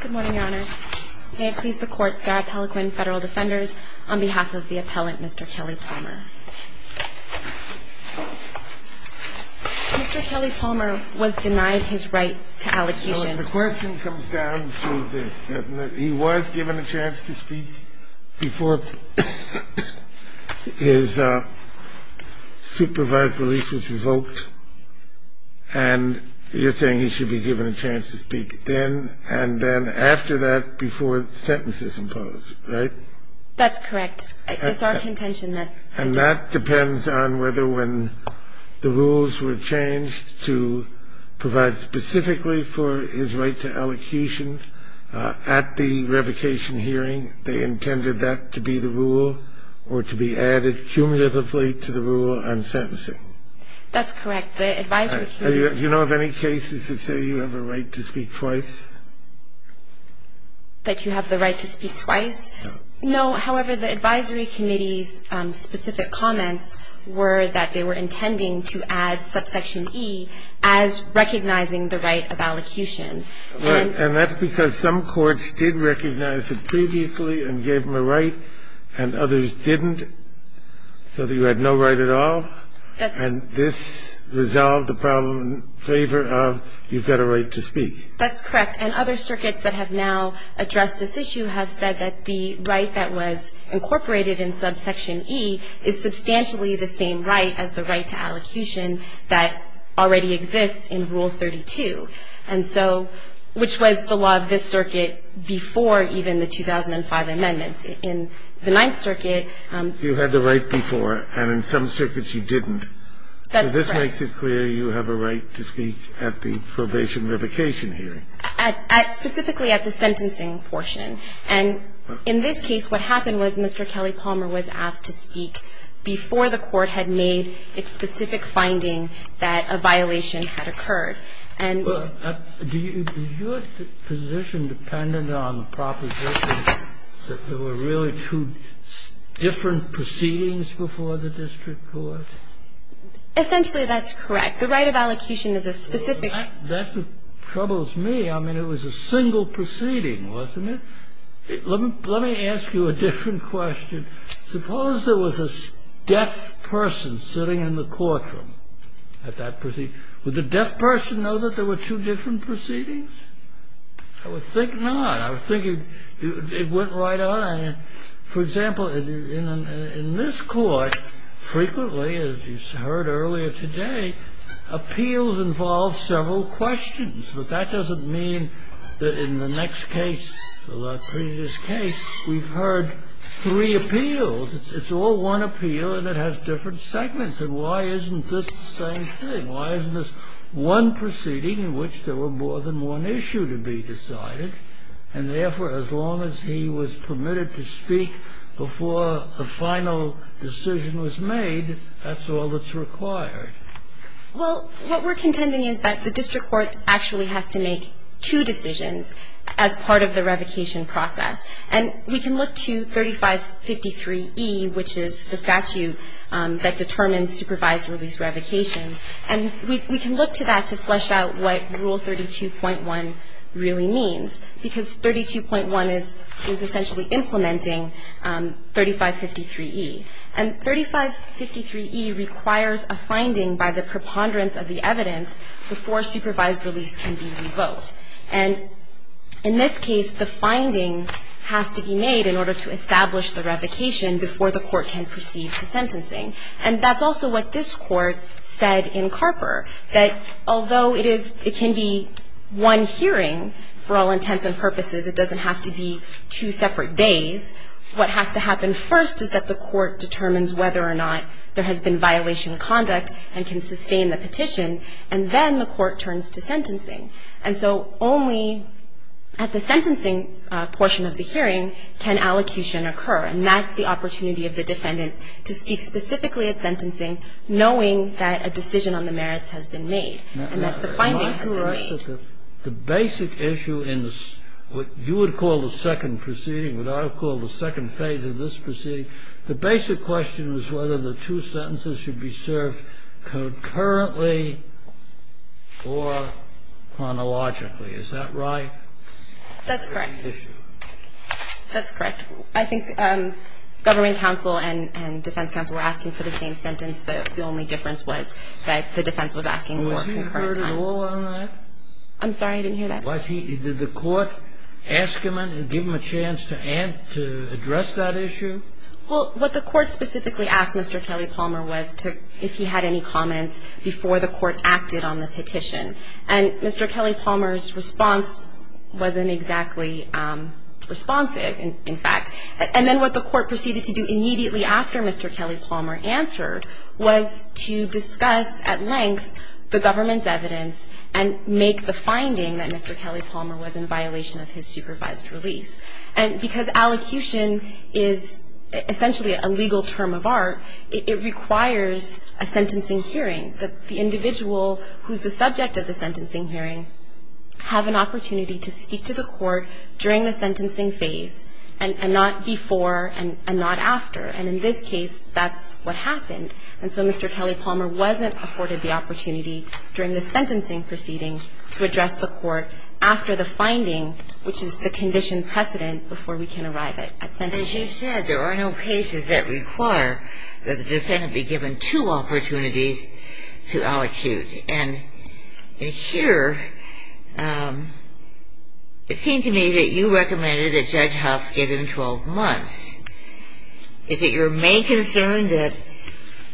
Good morning, Your Honor. May it please the Court, Sarah Pelliquin, Federal Defenders, on behalf of the appellant, Mr. Kelly-Palmer. Mr. Kelly-Palmer was denied his right to allocation. The question comes down to this, that he was given a chance to speak before his supervised release was revoked, and you're saying he should be given a chance to speak then and then after that before the sentence is imposed, right? That's correct. It's our contention that And that depends on whether when the rules were changed to provide specifically for his right to allocation at the revocation hearing, they intended that to be the rule or to be added cumulatively to the rule on sentencing. That's correct. The advisory committee Do you know of any cases that say you have a right to speak twice? That you have the right to speak twice? No. No. However, the advisory committee's specific comments were that they were intending to add subsection E as recognizing the right of allocation. And that's because some courts did recognize it previously and gave him a right and others didn't, so that you had no right at all? And this resolved the problem in favor of you've got a right to speak. That's correct. And other circuits that have now addressed this issue have said that the right that was incorporated in subsection E is substantially the same right as the right to allocation that already exists in Rule 32, which was the law of this circuit before even the 2005 amendments. In the Ninth Circuit You had the right before, and in some circuits you didn't. That's correct. So this makes it clear you have a right to speak at the probation revocation hearing. At specifically at the sentencing portion. And in this case, what happened was Mr. Kelly Palmer was asked to speak before the court had made its specific finding that a violation had occurred. Do you have a position dependent on the proposition that there were really two different proceedings before the district court? Essentially, that's correct. The right of allocation is a specific That troubles me. I mean, it was a single proceeding, wasn't it? Let me ask you a different question. Suppose there was a deaf person sitting in the courtroom at that proceeding. Would the deaf person know that there were two different proceedings? I would think not. I would think it went right on. For example, in this court, frequently, as you heard earlier today, appeals involve several questions. But that doesn't mean that in the next case, the previous case, we've heard three appeals. It's all one appeal, and it has different segments. And why isn't this the same thing? Why isn't this one proceeding in which there were more than one issue to be decided, and therefore, as long as he was permitted to speak before the final decision was made, that's all that's required? Well, what we're contending is that the district court actually has to make two decisions as part of the revocation process. And we can look to 3553E, which is the statute that determines supervised release revocations. And we can look to that to flesh out what Rule 32.1 really means, because 32.1 is essentially implementing 3553E. And 3553E requires a finding by the preponderance of the evidence before supervised release can be revoked. And in this case, the finding has to be made in order to establish the revocation before the court can proceed to sentencing. And that's also what this Court said in Carper, that although it is, it can be one hearing for all intents and purposes, it doesn't have to be two separate days, what has to happen first is that the court determines whether or not there has been violation of conduct and can sustain the petition, and then the court turns to sentencing. And so only at the sentencing portion of the hearing can allocution occur, and that's the opportunity of the defendant to speak specifically at sentencing, knowing that a decision on the merits has been made and that the finding has been made. The basic issue in what you would call the second proceeding, what I would call the second phase of this proceeding, the basic question is whether the two sentences should be served concurrently or chronologically. Is that right? That's correct. That's correct. I think government counsel and defense counsel were asking for the same sentence. The only difference was that the defense was asking for concurrent time. Was he heard at all on that? I'm sorry. I didn't hear that. Was he? Did the court ask him and give him a chance to address that issue? Well, what the court specifically asked Mr. Kelly Palmer was if he had any comments before the court acted on the petition. And Mr. Kelly Palmer's response wasn't exactly responsive, in fact. And then what the court proceeded to do immediately after Mr. Kelly Palmer answered was to discuss at length the government's evidence and make the finding that Mr. Kelly Palmer was in violation of his supervised release. And because allocution is essentially a legal term of art, it requires a sentencing hearing, that the individual who's the subject of the sentencing hearing have an opportunity to speak to the court during the sentencing phase and not before and not after. And in this case, that's what happened. And so Mr. Kelly Palmer wasn't afforded the opportunity during the sentencing proceeding to address the court after the finding, which is the condition precedent before we can arrive at sentencing. And as you said, there are no cases that require that the defendant be given two opportunities to allocute. And here, it seemed to me that you recommended that Judge Huff give him 12 months. Is it your main concern that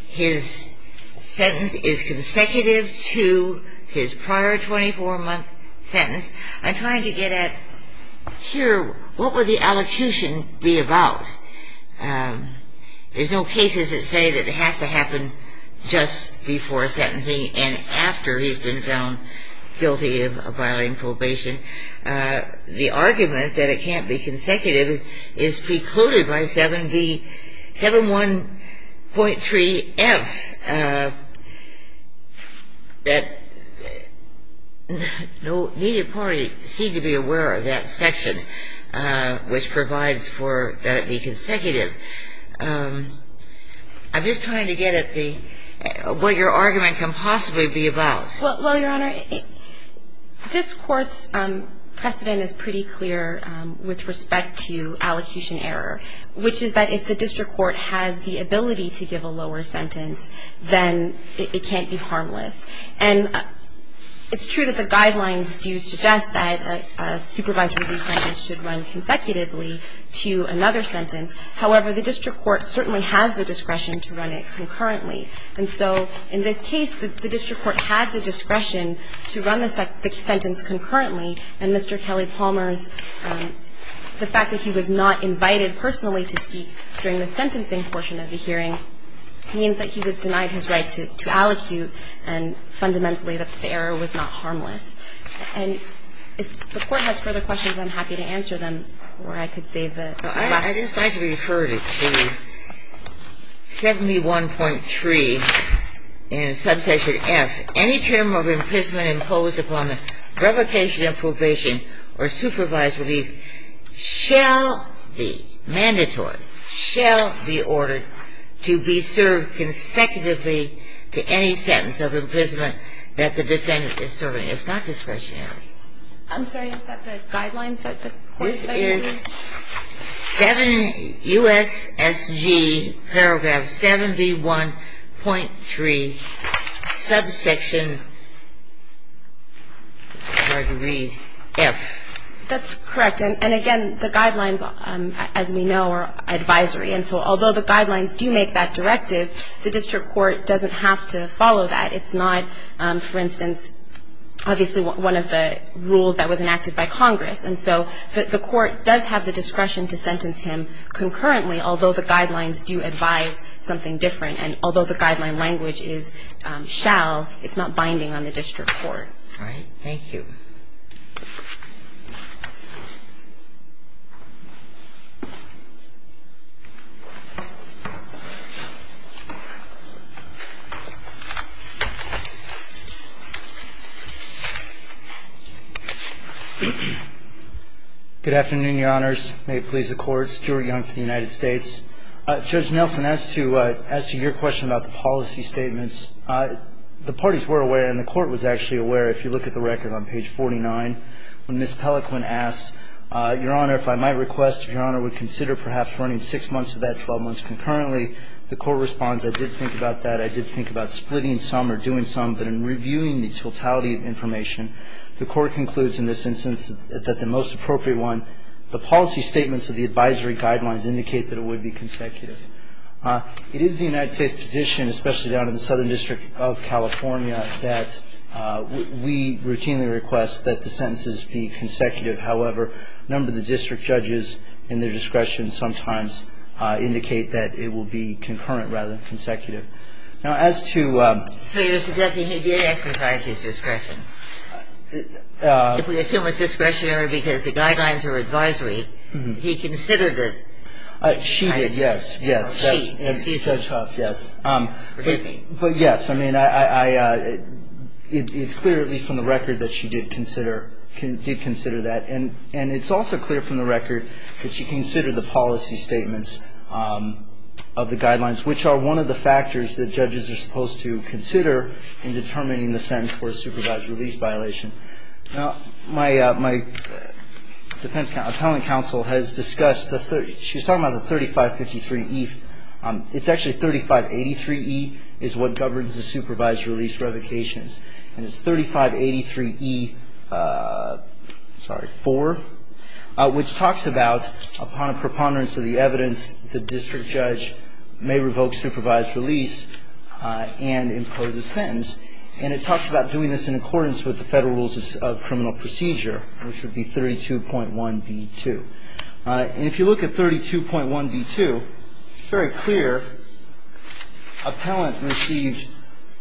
his sentence is consecutive to his prior 24-month sentence? I'm trying to get at here, what would the allocution be about? There's no cases that say that it has to happen just before sentencing and after he's been found guilty of violating probation. The argument that it can't be consecutive is precluded by 7.1.3.F. No needed parties seem to be aware of that section, which provides for that it be consecutive. I'm just trying to get at what your argument can possibly be about. Well, Your Honor, this Court's precedent is pretty clear with respect to allocation error, which is that if the district court has the ability to give a lower sentence, then it can't be harmless. And it's true that the guidelines do suggest that a supervised release sentence should run consecutively to another sentence. However, the district court certainly has the discretion to run it concurrently. And so in this case, the district court had the discretion to run the sentence concurrently. And Mr. Kelly Palmer's, the fact that he was not invited personally to speak during the sentencing portion of the hearing means that he was denied his right to allocute and fundamentally that the error was not harmless. And if the Court has further questions, I'm happy to answer them, or I could save the last one. I'd just like to refer to 71.3 in Subsection F. Any term of imprisonment imposed upon the revocation of probation or supervised relief shall be mandatory, shall be ordered to be served consecutively to any sentence of imprisonment that the defendant is serving. It's not discretionary. I'm sorry. This is 7 U.S.S.G. Paragraph 71.3, Subsection F. That's correct. And, again, the guidelines, as we know, are advisory. And so although the guidelines do make that directive, the district court doesn't have to follow that. It's not, for instance, obviously one of the rules that was enacted by Congress. And so the Court does have the discretion to sentence him concurrently, although the guidelines do advise something different. And although the guideline language is shall, it's not binding on the district All right. Thank you. Good afternoon, Your Honors. May it please the Court. Stuart Young for the United States. Judge Nelson, as to your question about the policy statements, the parties were aware and the Court was actually aware, if you look at the record on page 49, when Ms. Pelliquin asked, Your Honor, if I might request, if Your Honor would consider perhaps running six months of that, 12 months concurrently, the Court responds, I did think about that. I did think about splitting some or doing some, but in reviewing the totality of information, the Court concludes in this instance that the most appropriate one, the policy statements of the advisory guidelines indicate that it would be consecutive. It is the United States position, especially down in the Southern District of California, that we routinely request that the sentences be consecutive. However, a number of the district judges in their discretion sometimes indicate that it will be concurrent rather than consecutive. Now, as to So you're suggesting he did exercise his discretion. If we assume it's discretionary because the guidelines are advisory, he considered She did, yes. Judge Huff, yes. Forgive me. But, yes, I mean, it's clear, at least from the record, that she did consider that. And it's also clear from the record that she considered the policy statements of the guidelines, which are one of the factors that judges are supposed to consider in determining the sentence for a supervised release violation. Now, my defense counsel, appellant counsel, has discussed, she was talking about the 3553E. It's actually 3583E is what governs the supervised release revocations. And it's 3583E4, which talks about, upon a preponderance of the evidence, the district judge may revoke supervised release and impose a sentence. And it talks about doing this in accordance with the federal rules of criminal procedure, which would be 32.1B2. And if you look at 32.1B2, it's very clear appellant received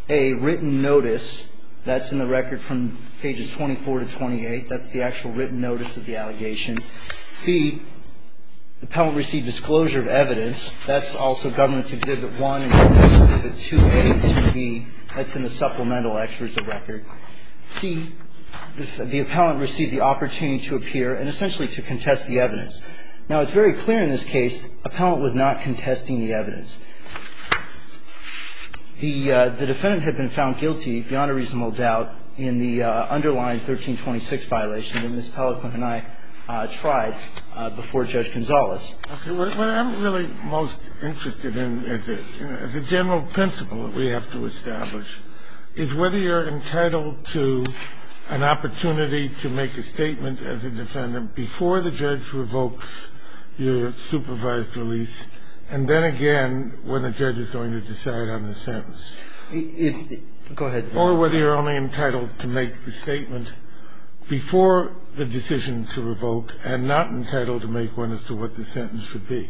a written notice that's in the record from pages 24 to 28. That's the actual written notice of the allegations. B, the appellant received disclosure of evidence. That's also Governance Exhibit 1 and Governance Exhibit 2A and 2B. That's in the supplemental experts of record. C, the appellant received the opportunity to appear and essentially to contest the evidence. Now, it's very clear in this case appellant was not contesting the evidence. The defendant had been found guilty, beyond a reasonable doubt, in the underlying 1326 violation that Ms. Pellicant and I tried before Judge Gonzales. Scalia. What I'm really most interested in as a general principle that we have to establish is whether you're entitled to an opportunity to make a statement as a defendant before the judge revokes your supervised release and then again when the judge is going to decide on the sentence. Go ahead. Or whether you're only entitled to make the statement before the decision to revoke and not entitled to make one as to what the sentence would be.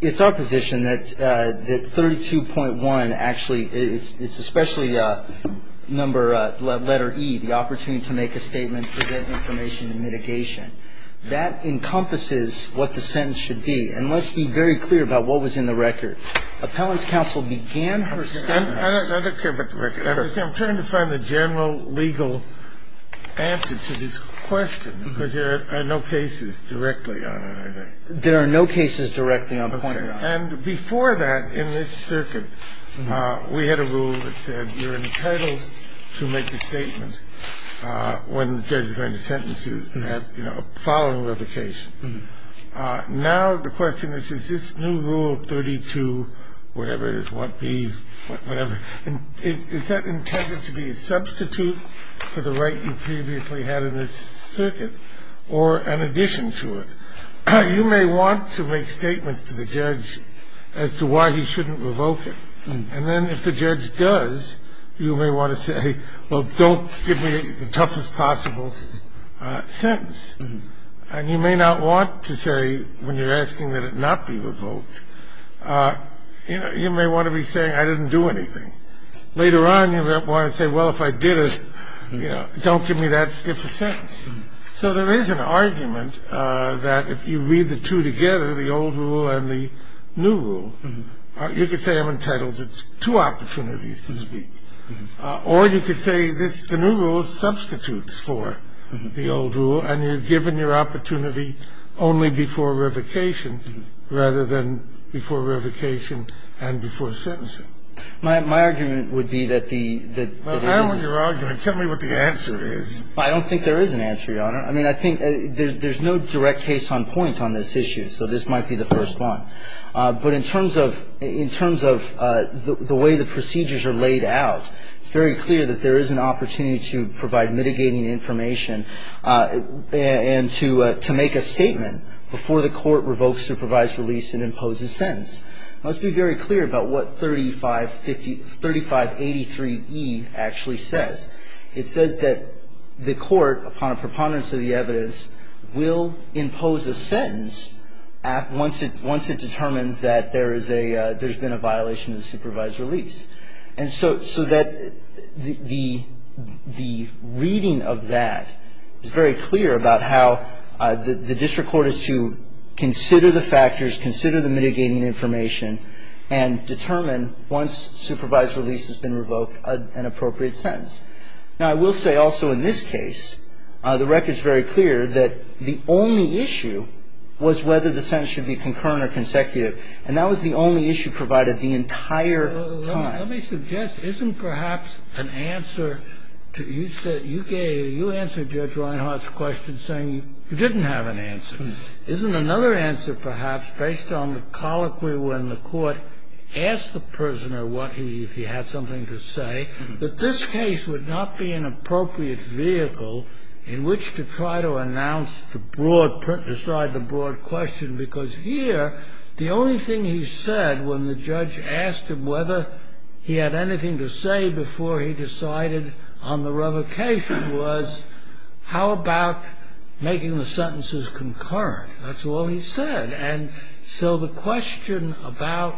It's our position that 32.1 actually, it's especially number, letter E, the opportunity to make a statement to get information and mitigation. That encompasses what the sentence should be. And let's be very clear about what was in the record. Appellant's counsel began her statement. I don't care about the record. I'm trying to find the general legal answer to this question because there are no cases directly on it, I think. There are no cases directly on the point you're on. And before that, in this circuit, we had a rule that said you're entitled to make a statement when the judge is going to sentence you, you know, following revocation. Now the question is, is this new rule 32 whatever it is, what B, whatever, is that intended to be a substitute for the right you previously had in this circuit or an addition to it? You may want to make statements to the judge as to why he shouldn't revoke it. And then if the judge does, you may want to say, well, don't give me the toughest possible sentence. And you may not want to say, when you're asking that it not be revoked, you know, you may want to be saying I didn't do anything. Later on, you might want to say, well, if I did it, you know, don't give me that stiff a sentence. So there is an argument that if you read the two together, the old rule and the new rule, you could say I'm entitled to two opportunities to speak. Or you could say this, the new rule substitutes for the old rule, and you're given your opportunity only before revocation rather than before revocation and before sentencing. My argument would be that the ‑‑ Well, I don't want your argument. Tell me what the answer is. I don't think there is an answer, Your Honor. I mean, I think there's no direct case on point on this issue, so this might be the first one. But in terms of the way the procedures are laid out, it's very clear that there is an opportunity to provide mitigating information and to make a statement before the court revokes supervised release and imposes sentence. Now, let's be very clear about what 3583E actually says. It says that the court, upon a preponderance of the evidence, will impose a sentence once it determines that there is a ‑‑ there's been a violation of supervised release. And so that the reading of that is very clear about how the district court is to consider the factors, consider the mitigating information, and determine once supervised release has been revoked an appropriate sentence. Now, I will say also in this case, the record is very clear that the only issue was whether the sentence should be concurrent or consecutive. And that was the only issue provided the entire time. Let me suggest, isn't perhaps an answer to ‑‑ you said, you gave, you answered Judge Reinhart's question saying you didn't have an answer. Isn't another answer perhaps, based on the colloquy when the court asked the prisoner what he, if he had something to say, that this case would not be an appropriate vehicle in which to try to announce the broad, decide the broad question. Because here, the only thing he said when the judge asked him whether he had anything to say before he decided on the revocation was, how about making the sentences concurrent? That's all he said. And so the question about,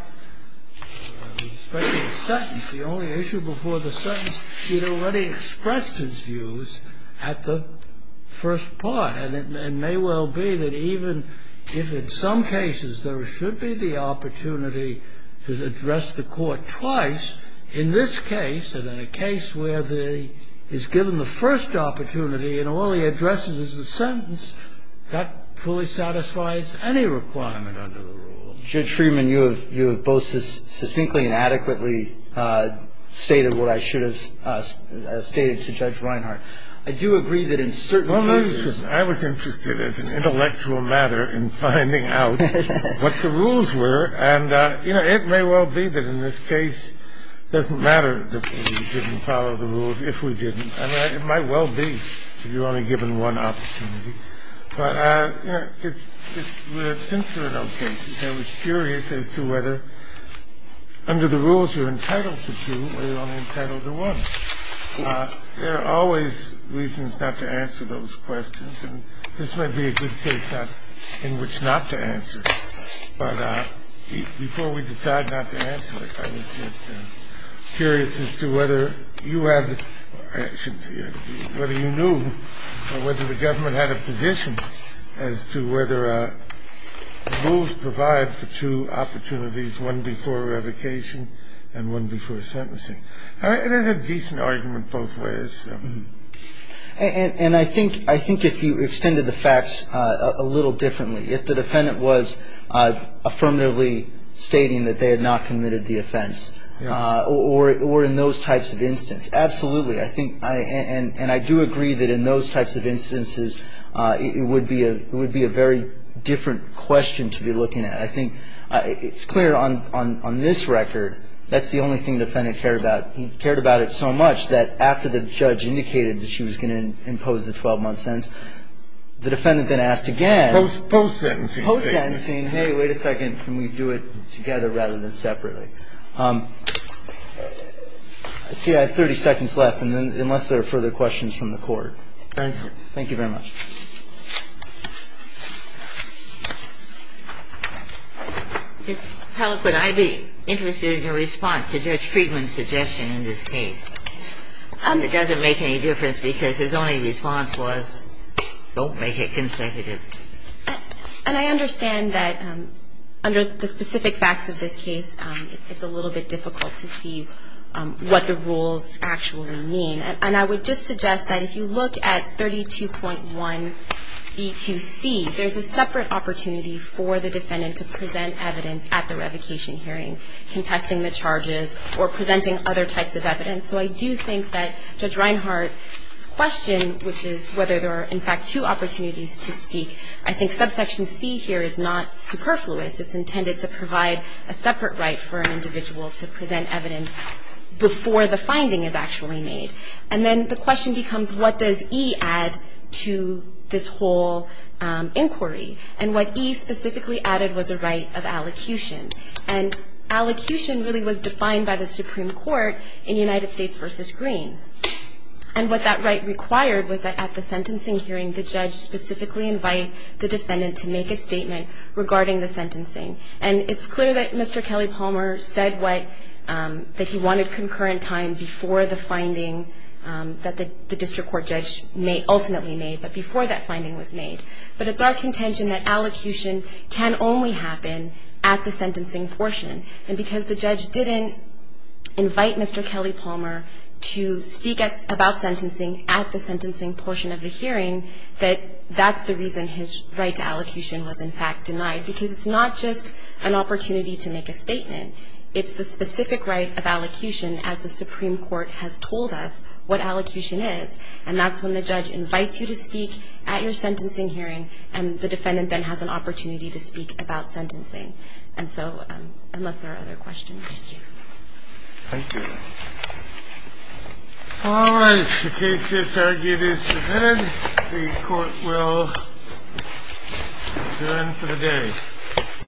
especially the sentence, the only issue before the sentence, he had already expressed his views at the first part. And it may well be that even if in some cases there should be the opportunity to address the court twice, in this case, and in a case where the ‑‑ he's given the first opportunity and all he addresses is the sentence, that fully satisfies any requirement under the rule. Judge Freeman, you have both succinctly and adequately stated what I should have stated to Judge Reinhart. I do agree that in certain cases ‑‑ Well, listen, I was interested as an intellectual matter in finding out what the rules were, and, you know, it may well be that in this case it doesn't matter that we didn't follow the rules if we didn't. I mean, it might well be if you're only given one opportunity. But, you know, since there are no cases, I was curious as to whether under the rules you're entitled to do or you're only entitled to one. There are always reasons not to answer those questions, and this might be a good case in which not to answer. But before we decide not to answer it, I was just curious as to whether you had ‑‑ as to whether rules provide for two opportunities, one before revocation and one before sentencing. There's a decent argument both ways. And I think if you extended the facts a little differently, if the defendant was affirmatively stating that they had not committed the offense or in those types of instances, it would be a very different question to be looking at. I think it's clear on this record that's the only thing the defendant cared about. He cared about it so much that after the judge indicated that she was going to impose the 12‑month sentence, the defendant then asked again. Post‑sentencing. Post‑sentencing. Hey, wait a second. Can we do it together rather than separately? I see I have 30 seconds left, unless there are further questions from the Court. Thank you. Thank you very much. Ms. Pellick, would I be interested in your response to Judge Friedman's suggestion in this case? It doesn't make any difference because his only response was, don't make it consecutive. And I understand that under the specific facts of this case, it's a little bit difficult to see what the rules actually mean. And I would just suggest that if you look at 32.1B2C, there's a separate opportunity for the defendant to present evidence at the revocation hearing, contesting the charges or presenting other types of evidence. So I do think that Judge Reinhart's question, which is whether there are, in fact, two opportunities to speak, I think subsection C here is not superfluous. It's intended to provide a separate right for an individual to present evidence before the finding is actually made. And then the question becomes, what does E add to this whole inquiry? And what E specifically added was a right of allocution. And allocution really was defined by the Supreme Court in United States v. Green. And what that right required was that at the sentencing hearing, the judge specifically invite the defendant to make a statement regarding the sentencing. And it's clear that Mr. Kelly Palmer said what, that he wanted concurrent time before the finding that the district court judge ultimately made, but before that finding was made. But it's our contention that allocution can only happen at the sentencing portion. And because the judge didn't invite Mr. Kelly Palmer to speak about sentencing at the sentencing portion of the hearing, that that's the reason his right to allocution was, in fact, denied. Because it's not just an opportunity to make a statement. It's the specific right of allocution as the Supreme Court has told us what allocution is. And that's when the judge invites you to speak at your sentencing hearing, and the defendant then has an opportunity to speak about sentencing. And so, unless there are other questions. Thank you. Thank you. All right. The case is argued as submitted. And the court will adjourn for the day.